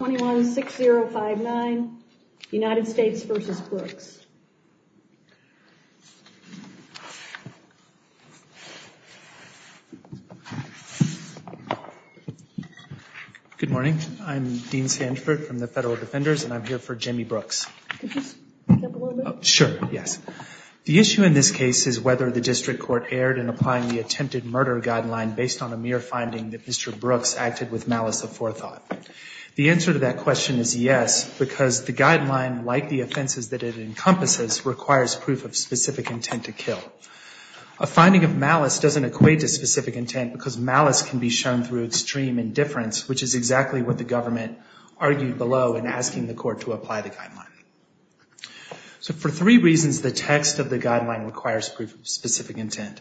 Good morning. I'm Dean Sandford from the Federal Defenders, and I'm here for Jamie Brooks. The issue in this case is whether the district court erred in applying the attempted murder guideline based on a mere finding that Mr. Brooks acted with malice of forethought. The answer to that question is yes, because the guideline, like the offenses that it encompasses, requires proof of specific intent to kill. A finding of malice doesn't equate to specific intent because malice can be shown through extreme indifference, which is exactly what the government argued below in asking the court to apply the guideline. So for three reasons, the text of the guideline requires proof of specific intent.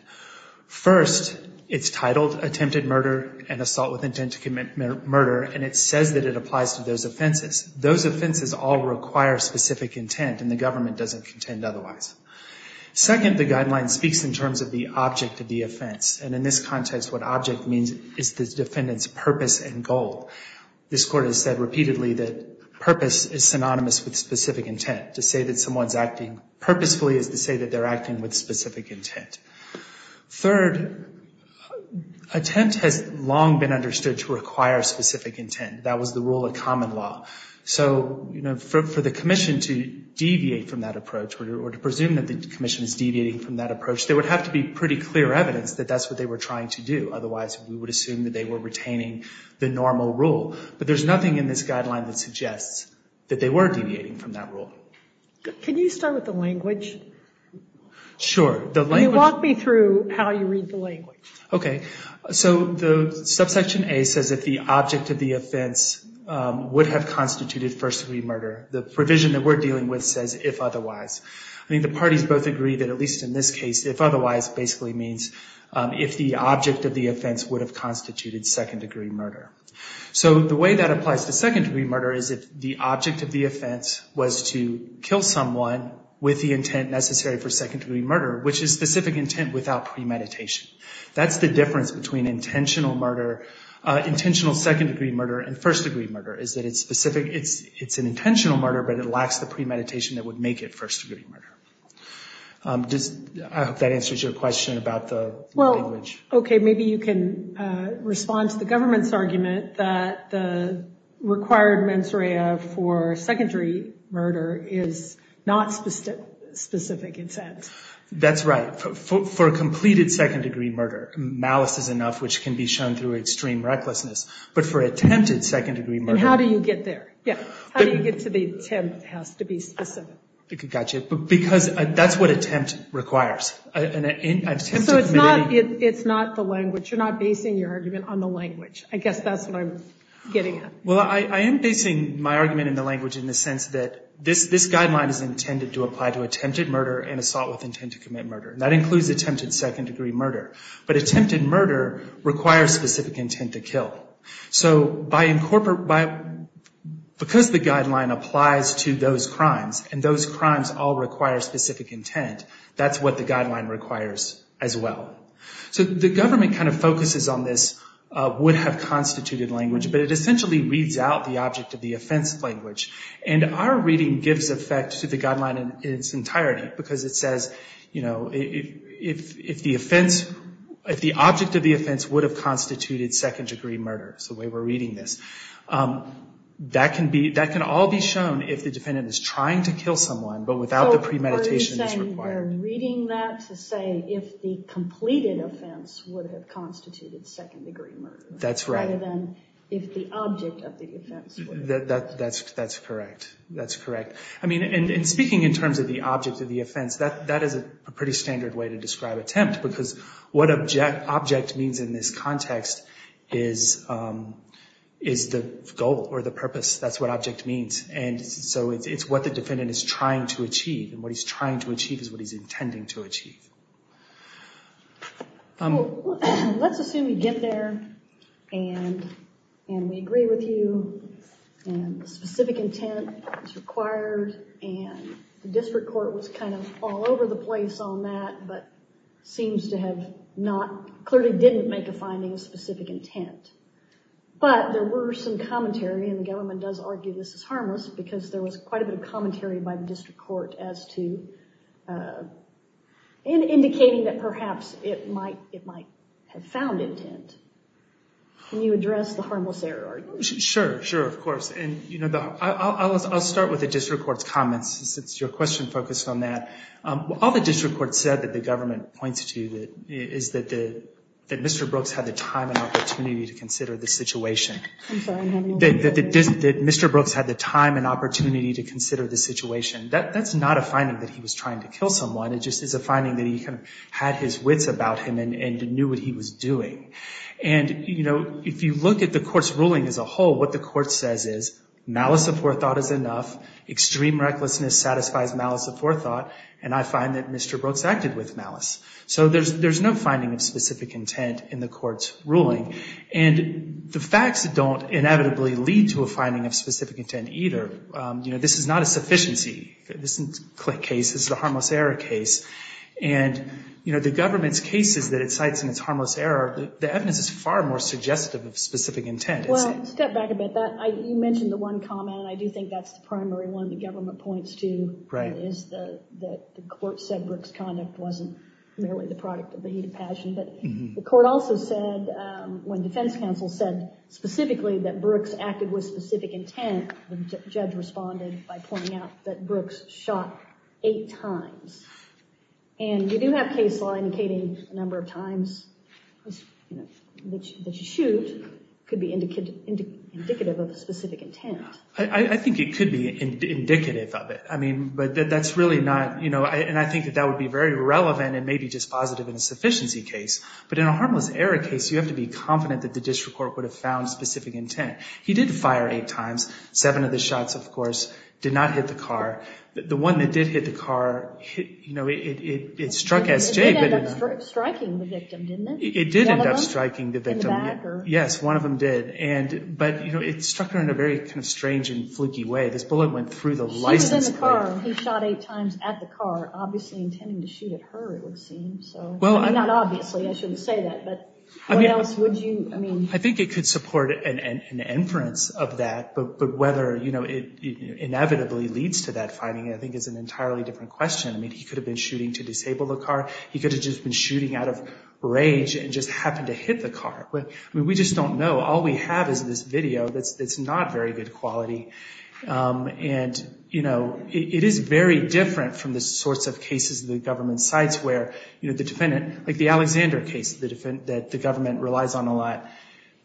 First, it's titled attempted murder and assault with intent to commit murder, and it says that it applies to those offenses. Those offenses all require specific intent, and the government doesn't contend otherwise. Second, the guideline speaks in terms of the object of the offense, and in this context, what object means is the defendant's purpose and goal. This court has said repeatedly that purpose is synonymous with specific intent, to say that someone's acting purposefully is to say that they're acting with specific intent. Third, attempt has long been understood to require specific intent. That was the rule of common law. So, you know, for the commission to deviate from that approach or to presume that the commission is deviating from that approach, there would have to be pretty clear evidence that that's what they were trying to do. Otherwise, we would assume that they were retaining the normal rule. But there's nothing in this guideline that suggests that they were deviating from that rule. Can you start with the language? Sure. The language Talk me through how you read the language. Okay. So, the subsection A says if the object of the offense would have constituted first-degree murder. The provision that we're dealing with says if otherwise. I think the parties both agree that at least in this case, if otherwise basically means if the object of the offense would have constituted second-degree murder. So, the way that applies to second-degree murder is if the object of the offense was to kill someone with the intent necessary for second-degree murder, which is specific intent without premeditation. That's the difference between intentional murder, intentional second-degree murder, and first-degree murder is that it's specific. It's an intentional murder, but it lacks the premeditation that would make it first-degree murder. I hope that answers your question about the language. Well, okay. Maybe you can respond to the government's argument that the required mens rea for secondary murder is not specific intent. That's right. For a completed second-degree murder, malice is enough, which can be shown through extreme recklessness. But for attempted second-degree murder... And how do you get there? Yeah. How do you get to the attempt has to be specific. Gotcha. Because that's what attempt requires. An attempt to commit any... So, it's not the language. You're not basing your argument on the language. I guess that's what I'm getting at. Well, I am basing my argument in the language in the sense that this guideline is intended to apply to attempted murder and assault with intent to commit murder. That includes attempted second-degree murder. But attempted murder requires specific intent to kill. So, because the guideline applies to those crimes, and those crimes all require specific intent, that's what the guideline requires as well. So, the government kind of focuses on this would-have-constituted language, but it essentially reads out the object of the offense language. And our reading gives effect to the guideline in its entirety because it says, you know, if the offense... If the object of the offense would have constituted second-degree murder, is the way we're reading this, that can all be shown if the defendant is trying to kill someone but without the premeditation that's required. So, you're saying you're reading that to say if the completed offense would have constituted second-degree murder. That's right. Rather than if the object of the offense would have... That's correct. That's correct. I mean, and speaking in terms of the object of the offense, that is a pretty standard way to describe attempt because what object means in this context is the goal or the purpose. That's what object means. And so, it's what the defendant is trying to achieve. And what he's trying to achieve is what he's intending to achieve. Well, let's assume you get there and we agree with you and the specific intent is required and the district court was kind of all over the place on that but seems to have not, clearly didn't make a finding of specific intent. But there were some commentary, and the government does argue this is harmless because there was quite a bit of commentary by the district court as to, and indicating that perhaps it might have found intent. Can you address the harmless error? Sure, sure, of course. And I'll start with the district court's comments since your question focused on that. All the district court said that the government points to is that Mr. Brooks had the time and opportunity to consider the situation. I'm sorry, I'm having a little... That Mr. Brooks had the time and opportunity to consider the situation. That's not a finding that he was trying to kill someone. It just is a finding that he kind of had his wits about him and knew what he was doing. And, you know, if you look at the court's ruling as a whole, what the court says is malice of forethought is enough, extreme recklessness satisfies malice of forethought, and I find that Mr. Brooks acted with malice. So, there's no finding of specific intent in the court's ruling. And the facts don't inevitably lead to a finding of specific intent either. You know, this is not a sufficiency. This isn't a click case, this is a harmless error case. And, you know, the government's cases that it cites in its harmless error, the evidence is far more suggestive of specific intent. Well, step back a bit. You mentioned the one comment, and I do think that's the primary one the government points to, is that the court said Brooks' conduct wasn't merely the product of the heat of passion, but the court also said, when defense counsel said specifically that Brooks acted with specific intent, the judge responded by pointing out that Brooks shot eight times. And you do have case law indicating the number of times that you shoot could be indicative of a specific intent. I think it could be indicative of it. I mean, case, but in a harmless error case, you have to be confident that the district court would have found specific intent. He did fire eight times. Seven of the shots, of course, did not hit the car. The one that did hit the car, you know, it struck SJ, but it did end up striking the victim. Yes, one of them did. And, but, you know, it struck her in a very kind of strange and fluky way. This bullet went through the license plate. He shot eight times at the car, obviously intending to shoot at her, it would seem. So, well, not obviously, I shouldn't say that. But what else would you, I mean, I think it could support an inference of that. But whether, you know, it inevitably leads to that finding, I think, is an entirely different question. I mean, he could have been shooting to disable the car. He could have just been shooting out of rage and just happened to hit the car. But we just don't know. All we have is this video that's not very good quality. And, you know, it is very different from the sorts of cases the government cites where, you know, the defendant, like the Alexander case, that the government relies on a lot.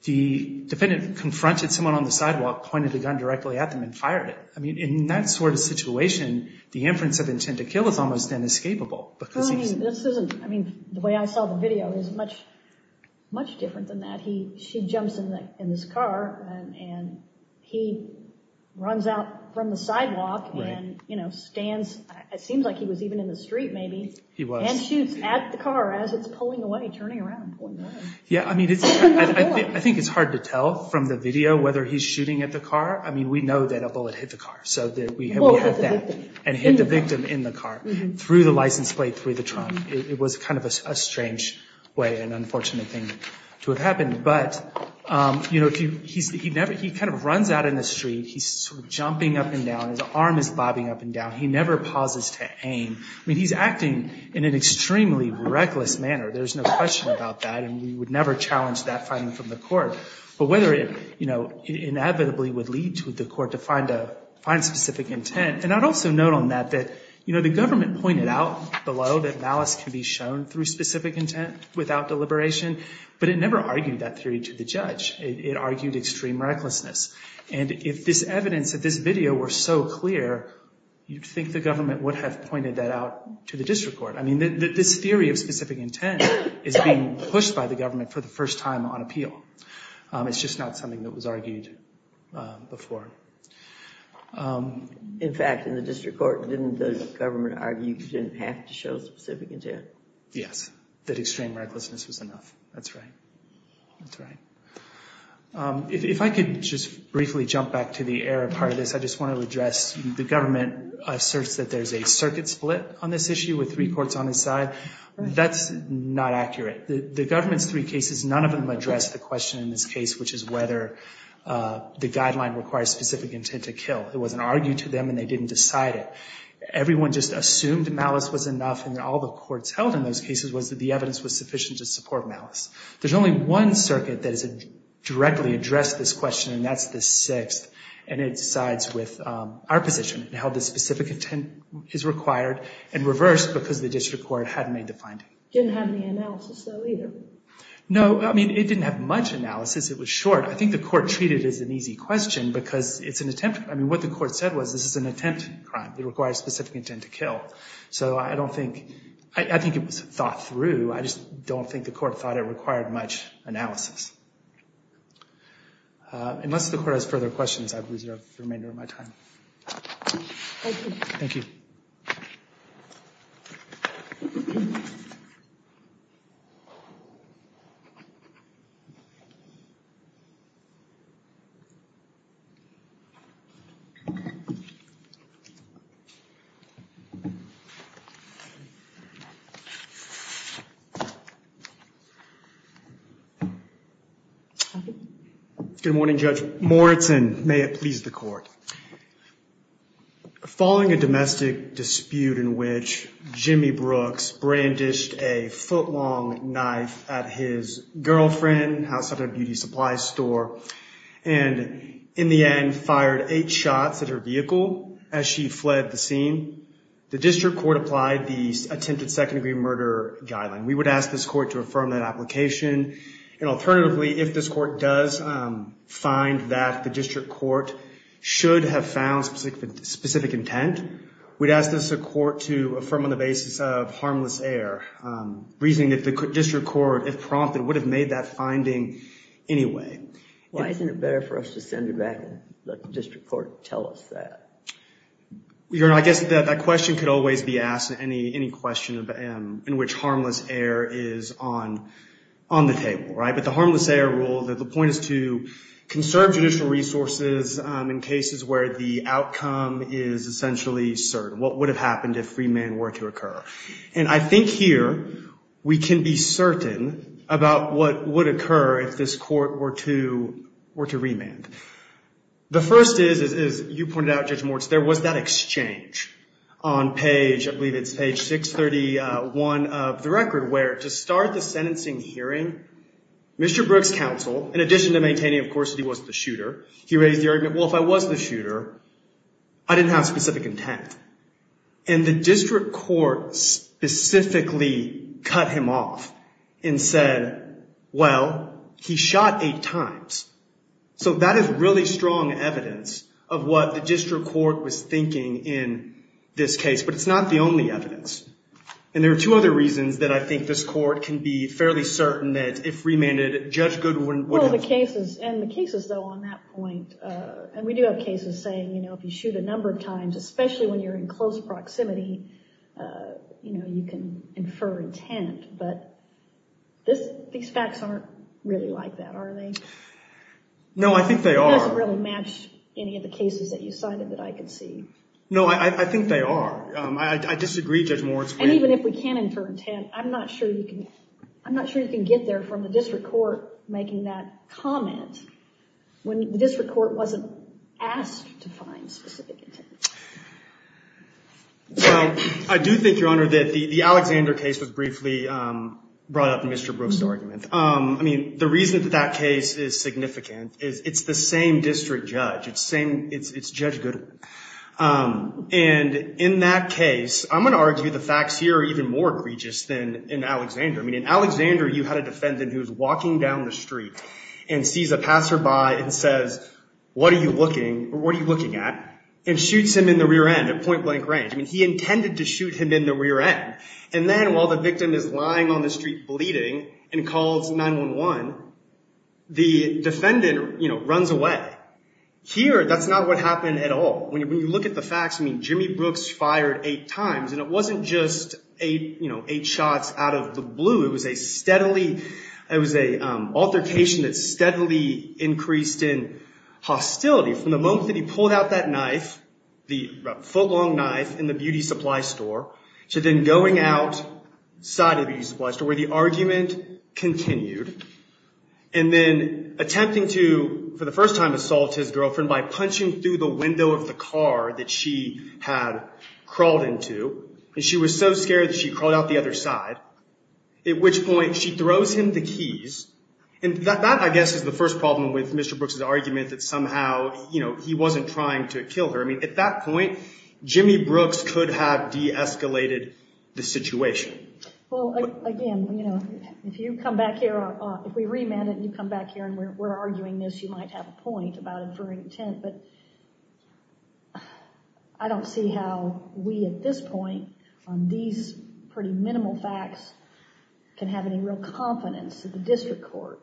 The defendant confronted someone on the sidewalk, pointed a gun directly at them and fired it. I mean, in that sort of situation, the inference of intent to kill is almost inescapable. I mean, this isn't, I mean, the way I saw the video is much, much different than that. She jumps in this car and he runs out from the sidewalk and, you know, stands, it seems like he was even in the street maybe. He was. And shoots at the car as it's pulling away, turning around. Yeah, I mean, I think it's hard to tell from the video whether he's shooting at the car. I mean, we know that a bullet hit the car. So we have that. And hit the victim in the car, through the license plate, through the trunk. It was kind of a strange way, an unfortunate thing to have happened. But, you know, he's, he never, he kind of runs out in the street. He's sort of jumping up and down. His arm is bobbing up and down. He never pauses to aim. I mean, he's acting in an extremely reckless manner. There's no question about that. And we would never challenge that finding from the court. But whether it, you know, inevitably would lead to the court to find a, find specific intent. And I'd also note on that that, you know, the government pointed out below that malice can be shown through specific intent without deliberation. But it never argued that theory to the judge. It argued extreme recklessness. And if this evidence, if this video were so clear, you'd think the government would have pointed that out to the district court. I mean, this theory of specific intent is being pushed by the government for the first time on appeal. It's just not something that was argued before. In fact, in the district court, didn't the government argue that you didn't have to show specific intent? Yes, that extreme recklessness was enough. That's right. That's right. If I could just briefly jump back to the error part of this, I just want to address, the government asserts that there's a circuit split on this issue with three courts on the side. That's not accurate. The government's three cases, none of them address the question in this case, which is whether the guideline requires specific intent to kill. It wasn't argued to them, and they didn't decide it. Everyone just assumed malice was enough, and all the courts held in those cases was that the evidence was sufficient to support malice. There's only one circuit that has directly addressed this question, and that's the sixth. And it sides with our position in how the specific intent is required and reversed because the district court hadn't made the finding. Didn't have any analysis, though, either. No, I mean, it didn't have much analysis. It was short. I think the court treated it as an easy question because it's an attempt. I mean, what the court said was this is an attempt crime. It requires specific intent to kill. So I don't think, I think it was thought through. I just don't think the court thought it required much analysis. Unless the court has further questions, I have the remainder of my time. Thank you. Good morning, Judge Moritz, and may it please the court. Following a domestic dispute in which Jimmy Brooks brandished a foot-long knife at his girlfriend, outside her beauty supply store, and in the end fired eight shots at her vehicle as she fled the scene, the district court applied the attempted second-degree murder guideline. We would ask this court to affirm that application, and alternatively, if this court does find that, the district court should have found specific intent. We'd ask this court to affirm on the basis of harmless air, reasoning that the district court, if prompted, would have made that finding anyway. Why isn't it better for us to send her back and let the district court tell us that? Your Honor, I guess that question could always be asked in any question in which harmless air is on the table, right? But the harmless air rule, the point is to conserve judicial resources in cases where the outcome is essentially certain. What would have happened if remand were to occur? And I think here we can be certain about what would occur if this court were to remand. The first is, as you pointed out, Judge Moritz, there was that exchange on page, I believe it's page 631 of the record, where to start the sentencing hearing, Mr. Brooks' counsel, in addition to maintaining, of course, that he was the shooter, he raised the argument, well, if I was the shooter, I didn't have specific intent. And the district court specifically cut him off and said, well, he shot eight times. So that is really strong evidence of what the district court was thinking in this case. But it's not the only evidence. And there are two other reasons that I think this court can be fairly certain that if remanded, Judge Goodwin would have – Well, the cases, and the cases, though, on that point, and we do have cases saying, you know, if you shoot a number of times, especially when you're in close proximity, you know, you can infer intent. But these facts aren't really like that, are they? No, I think they are. It doesn't really match any of the cases that you cited that I could see. No, I think they are. I disagree, Judge Moritz. And even if we can infer intent, I'm not sure you can get there from the district court making that comment when the district court wasn't asked to find specific intent. I do think, Your Honor, that the Alexander case was briefly brought up in Mr. Brooks' argument. I mean, the reason that that case is significant is it's the same district judge. It's Judge Goodwin. And in that case, I'm going to argue the facts here are even more egregious than in Alexander. I mean, in Alexander, you had a defendant who's walking down the street and sees a passerby and says, what are you looking – or what are you looking at? And shoots him in the rear end at point blank range. I mean, he intended to shoot him in the rear end. And then while the victim is lying on the street bleeding and calls 911, the defendant, you know, runs away. Here, that's not what happened at all. When you look at the facts, I mean, Jimmy Brooks fired eight times. And it wasn't just, you know, eight shots out of the blue. It was a steadily – it was an altercation that steadily increased in hostility. From the moment that he pulled out that knife, the foot-long knife in the beauty supply store, to then going outside of the beauty supply store where the argument continued, and then attempting to, for the first time, assault his girlfriend by punching through the window of the car that she had crawled into. And she was so scared that she crawled out the other side, at which point she throws him the keys. And that, I guess, is the first problem with Mr. Brooks' argument that somehow, you know, he wasn't trying to kill her. I mean, at that point, Jimmy Brooks could have de-escalated the situation. Well, again, you know, if you come back here – if we remand it and you come back here and we're arguing this, you might have a point about inferring intent. But I don't see how we, at this point, on these pretty minimal facts, can have any real confidence that the district court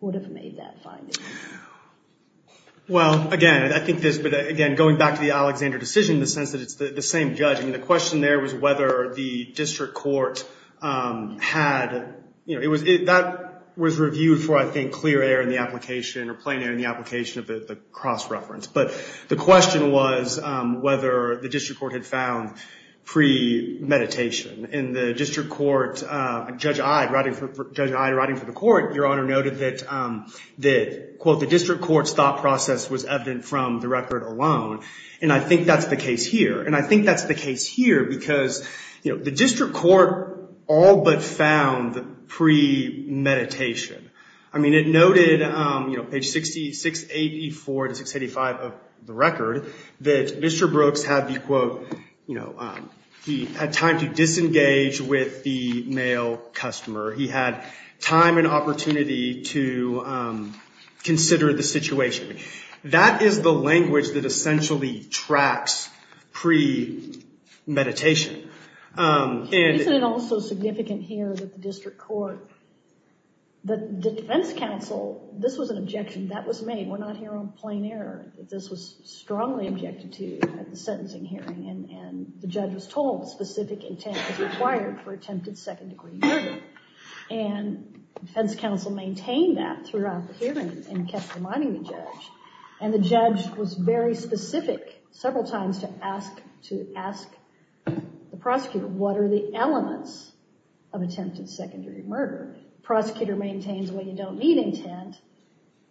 would have made that finding. Well, again, I think there's – but, again, going back to the Alexander decision in the sense that it's the same judge. I mean, the question there was whether the district court had – you know, it was – that was reviewed for, I think, clear air in the application or plain air in the application of the cross-reference. But the question was whether the district court had found premeditation. In the district court, Judge Ide, writing for the court, Your Honor noted that, quote, the district court's thought process was evident from the record alone. And I think that's the case here. And I think that's the case here because, you know, the district court all but found premeditation. I mean, it noted, you know, page 684 to 685 of the record that Mr. Brooks had the, quote, you know, he had time to disengage with the male customer. He had time and opportunity to consider the situation. That is the language that essentially tracks premeditation. And – Isn't it also significant here that the district court – the defense counsel – this was an objection that was made. We're not here on plain air. This was strongly objected to at the sentencing hearing. And the judge was told specific intent is required for attempted second-degree murder. And the defense counsel maintained that throughout the hearing and kept reminding the judge. And the judge was very specific several times to ask the prosecutor, what are the elements of attempted secondary murder? The prosecutor maintains, well, you don't need intent.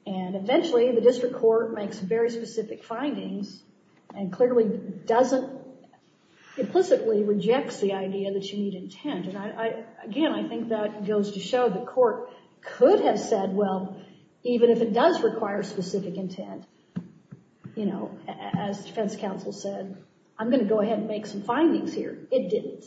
And eventually, the district court makes very specific findings and clearly doesn't – implicitly rejects the idea that you need intent. And, again, I think that goes to show the court could have said, well, even if it does require specific intent, you know, as defense counsel said, I'm going to go ahead and make some findings here. It didn't.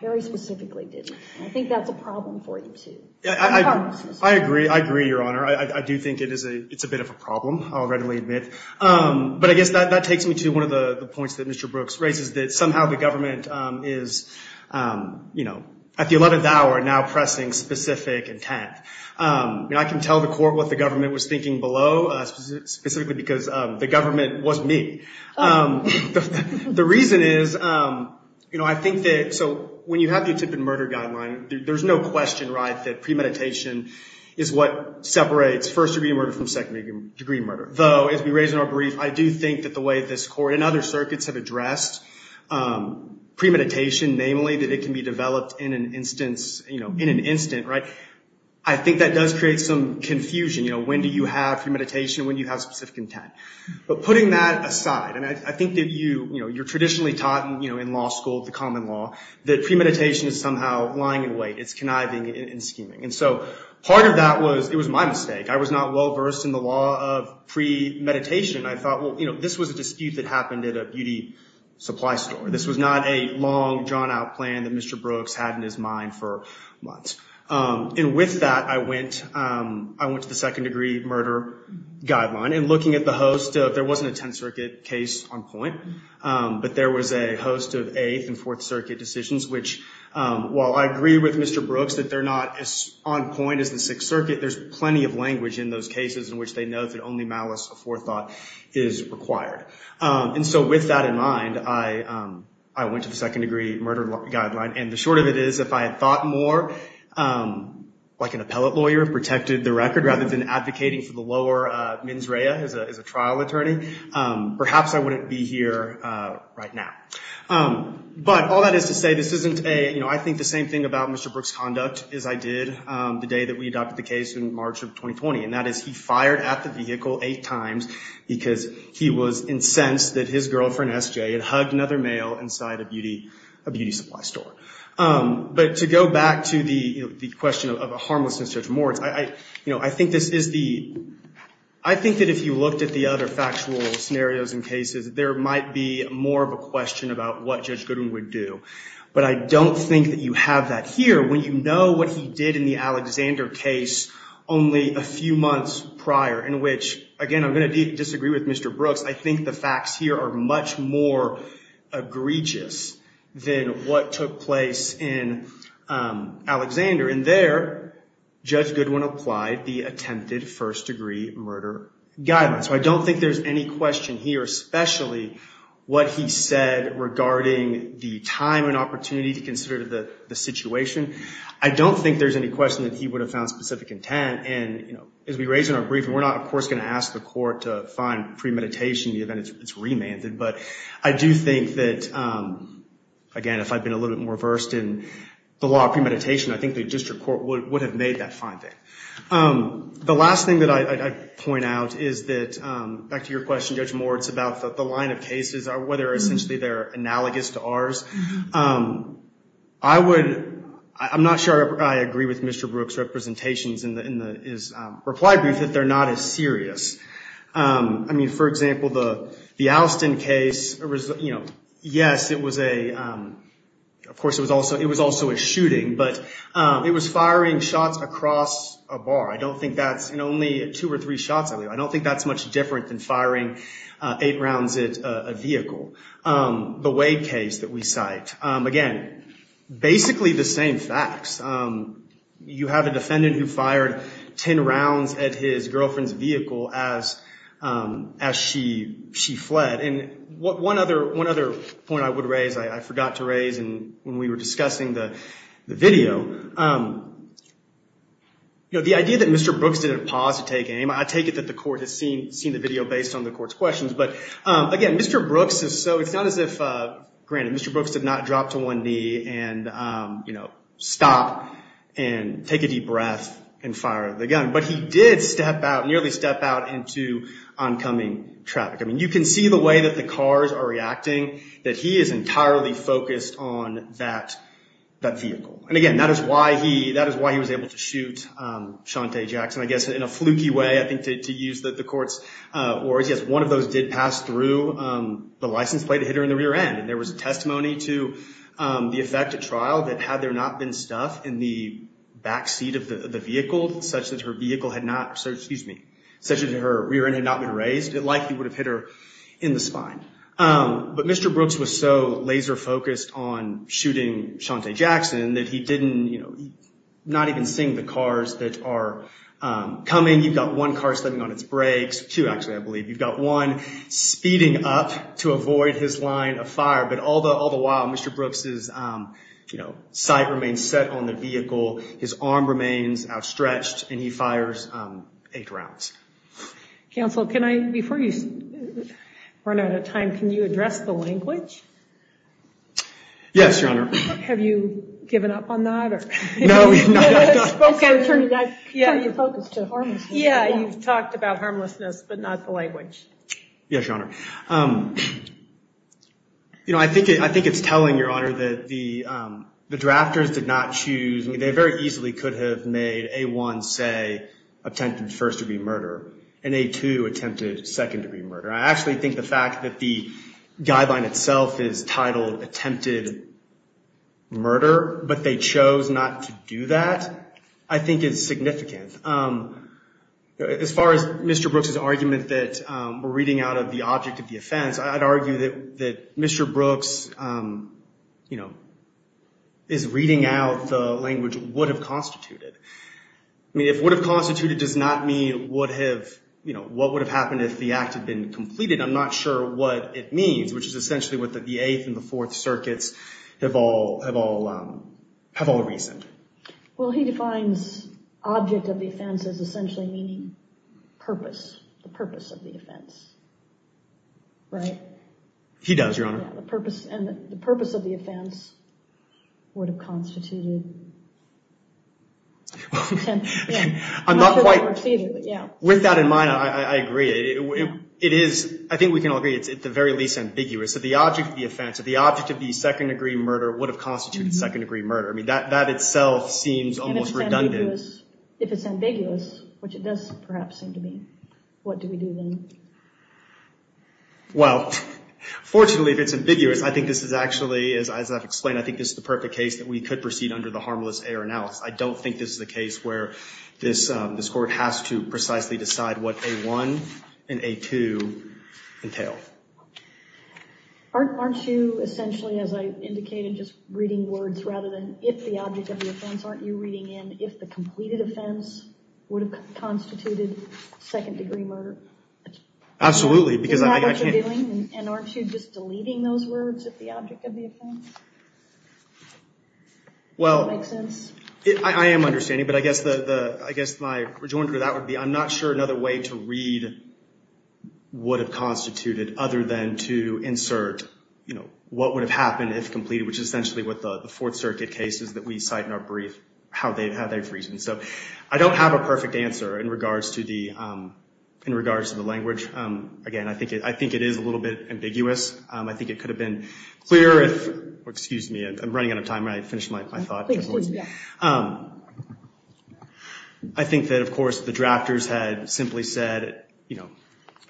Very specifically didn't. And I think that's a problem for you, too. I agree. I agree, Your Honor. I do think it is a – it's a bit of a problem, I'll readily admit. But I guess that takes me to one of the points that Mr. Brooks raises, that somehow the government is, you know, at the 11th hour now pressing specific intent. You know, I can tell the court what the government was thinking below, specifically because the government was me. The reason is, you know, I think that – so when you have the attempted murder guideline, there's no question, right, that premeditation is what separates first-degree murder from second-degree murder. Though, as we raise in our brief, I do think that the way this court and other circuits have addressed premeditation, namely that it can be developed in an instance – you know, in an instant, right, I think that does create some confusion. You know, when do you have premeditation, when do you have specific intent? But putting that aside, and I think that you – you know, you're traditionally taught, you know, in law school, the common law, that premeditation is somehow lying in wait. It's conniving and scheming. And so part of that was – it was my mistake. I was not well-versed in the law of premeditation. I thought, well, you know, this was a dispute that happened at a beauty supply store. This was not a long, drawn-out plan that Mr. Brooks had in his mind for months. And with that, I went – I went to the second-degree murder guideline. And looking at the host of – there wasn't a Tenth Circuit case on point, but there was a host of Eighth and Fourth Circuit decisions, which, while I agree with Mr. Brooks that they're not on point as the Sixth Circuit, there's plenty of language in those cases in which they know that only malice of forethought is required. And so with that in mind, I went to the second-degree murder guideline. And the short of it is, if I had thought more like an appellate lawyer, protected the record rather than advocating for the lower mens rea as a trial attorney, perhaps I wouldn't be here right now. But all that is to say this isn't a – you know, I think the same thing about Mr. Brooks' conduct as I did the day that we adopted the case in March of 2020, and that is he fired at the vehicle eight times because he was incensed that his girlfriend, S.J., had hugged another male inside a beauty – a beauty supply store. But to go back to the – you know, the question of a harmlessness judge mortis, I – you know, I think this is the – I think that if you looked at the other factual scenarios and cases, there might be more of a question about what Judge Goodwin would do. But I don't think that you have that here when you know what he did in the Alexander case only a few months prior, in which – again, I'm going to disagree with Mr. Brooks. I think the facts here are much more egregious than what took place in Alexander. And there, Judge Goodwin applied the attempted first-degree murder guideline. So I don't think there's any question here, especially what he said regarding the time and opportunity to consider the situation. I don't think there's any question that he would have found specific intent. And, you know, as we raise in our briefing, we're not, of course, going to ask the court to find premeditation in the event it's remanded. But I do think that, again, if I'd been a little bit more versed in the law of premeditation, I think the district court would have made that finding. The last thing that I'd point out is that, back to your question, Judge Moritz, about the line of cases, whether essentially they're analogous to ours. I would – I'm not sure I agree with Mr. Brooks' representations in his reply brief that they're not as serious. I mean, for example, the Alston case, you know, yes, it was a – of course, it was also a shooting. But it was firing shots across a bar. I don't think that's – and only two or three shots, I believe. I don't think that's much different than firing eight rounds at a vehicle. The Wade case that we cite, again, basically the same facts. You have a defendant who fired ten rounds at his girlfriend's vehicle as she fled. And one other point I would raise, I forgot to raise when we were discussing the video. You know, the idea that Mr. Brooks didn't pause to take aim, I take it that the court has seen the video based on the court's questions. But, again, Mr. Brooks is so – it's not as if – granted, Mr. Brooks did not drop to one knee and, you know, stop and take a deep breath and fire the gun. But he did step out, nearly step out, into oncoming traffic. I mean, you can see the way that the cars are reacting, that he is entirely focused on that vehicle. And, again, that is why he – that is why he was able to shoot Shantae Jackson, I guess, in a fluky way, I think, to use the court's words. Yes, one of those did pass through the license plate that hit her in the rear end. And there was a testimony to the effect at trial that had there not been stuff in the backseat of the vehicle, such that her vehicle had not – excuse me, such that her rear end had not been raised, it likely would have hit her in the spine. But Mr. Brooks was so laser-focused on shooting Shantae Jackson that he didn't, you know, not even seeing the cars that are coming. You've got one car stepping on its brakes – two, actually, I believe. You've got one speeding up to avoid his line of fire. But all the while, Mr. Brooks's, you know, sight remains set on the vehicle, his arm remains outstretched, and he fires eight rounds. Counsel, can I – before you run out of time, can you address the language? Yes, Your Honor. Have you given up on that? No, not at all. Okay, I'm turning my focus to harmlessness. Yeah, you've talked about harmlessness, but not the language. Yes, Your Honor. You know, I think it's telling, Your Honor, that the drafters did not choose – they very easily could have made A1 say attempted first-degree murder and A2 attempted second-degree murder. I actually think the fact that the guideline itself is titled attempted murder, but they chose not to do that, I think is significant. As far as Mr. Brooks's argument that we're reading out of the object of the offense, I'd argue that Mr. Brooks, you know, is reading out the language would have constituted. I mean, if would have constituted does not mean would have, you know, what would have happened if the act had been completed, I'm not sure what it means, which is essentially what the Eighth and the Fourth Circuits have all reasoned. Well, he defines object of the offense as essentially meaning purpose, the purpose of the offense, right? He does, Your Honor. And the purpose of the offense would have constituted. I'm not quite – with that in mind, I agree. It is – I think we can all agree it's at the very least ambiguous. If the object of the offense, if the object of the second-degree murder would have constituted second-degree murder. I mean, that itself seems almost redundant. If it's ambiguous, which it does perhaps seem to be, what do we do then? Well, fortunately, if it's ambiguous, I think this is actually, as I've explained, I think this is the perfect case that we could proceed under the harmless error analysis. I don't think this is a case where this court has to precisely decide what A1 and A2 entail. Aren't you essentially, as I indicated, just reading words rather than if the object of the offense, aren't you reading in if the completed offense would have constituted second-degree murder? Absolutely, because I can't – Isn't that what you're doing? And aren't you just deleting those words if the object of the offense? Well – Does that make sense? I am understanding, but I guess my rejoinder to that would be I'm not sure another way to read would have constituted other than to insert, you know, what would have happened if completed, which is essentially what the Fourth Circuit case is that we cite in our brief, how they've reasoned. So I don't have a perfect answer in regards to the language. Again, I think it is a little bit ambiguous. I think it could have been clearer if – excuse me, I'm running out of time. I finished my thought. I think that, of course, the drafters had simply said, you know,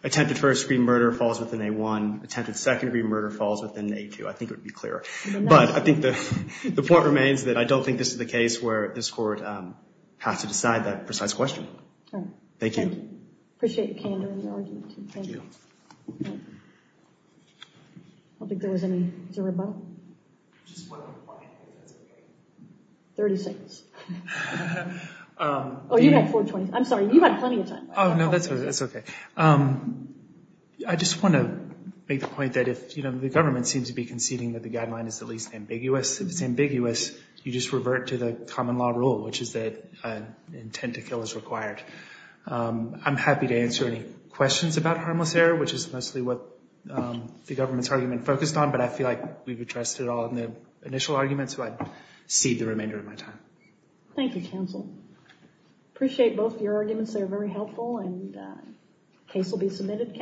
attempted first-degree murder falls within A1, attempted second-degree murder falls within A2. I think it would be clearer. But I think the point remains that I don't think this is the case where this Court has to decide that precise question. Thank you. I appreciate your candor and your argument, too. Thank you. I don't think there was any – is there a rebuttal? Thirty seconds. Oh, you had 4.20. I'm sorry, you had plenty of time. Oh, no, that's okay. I just want to make the point that if, you know, the government seems to be conceding that the guideline is at least ambiguous, if it's ambiguous, you just revert to the common law rule, which is that intent to kill is required. I'm happy to answer any questions about harmless error, which is mostly what the government's argument focused on, but I feel like we've addressed it all in the initial argument, so I cede the remainder of my time. Thank you, counsel. Appreciate both your arguments. They were very helpful, and the case will be submitted.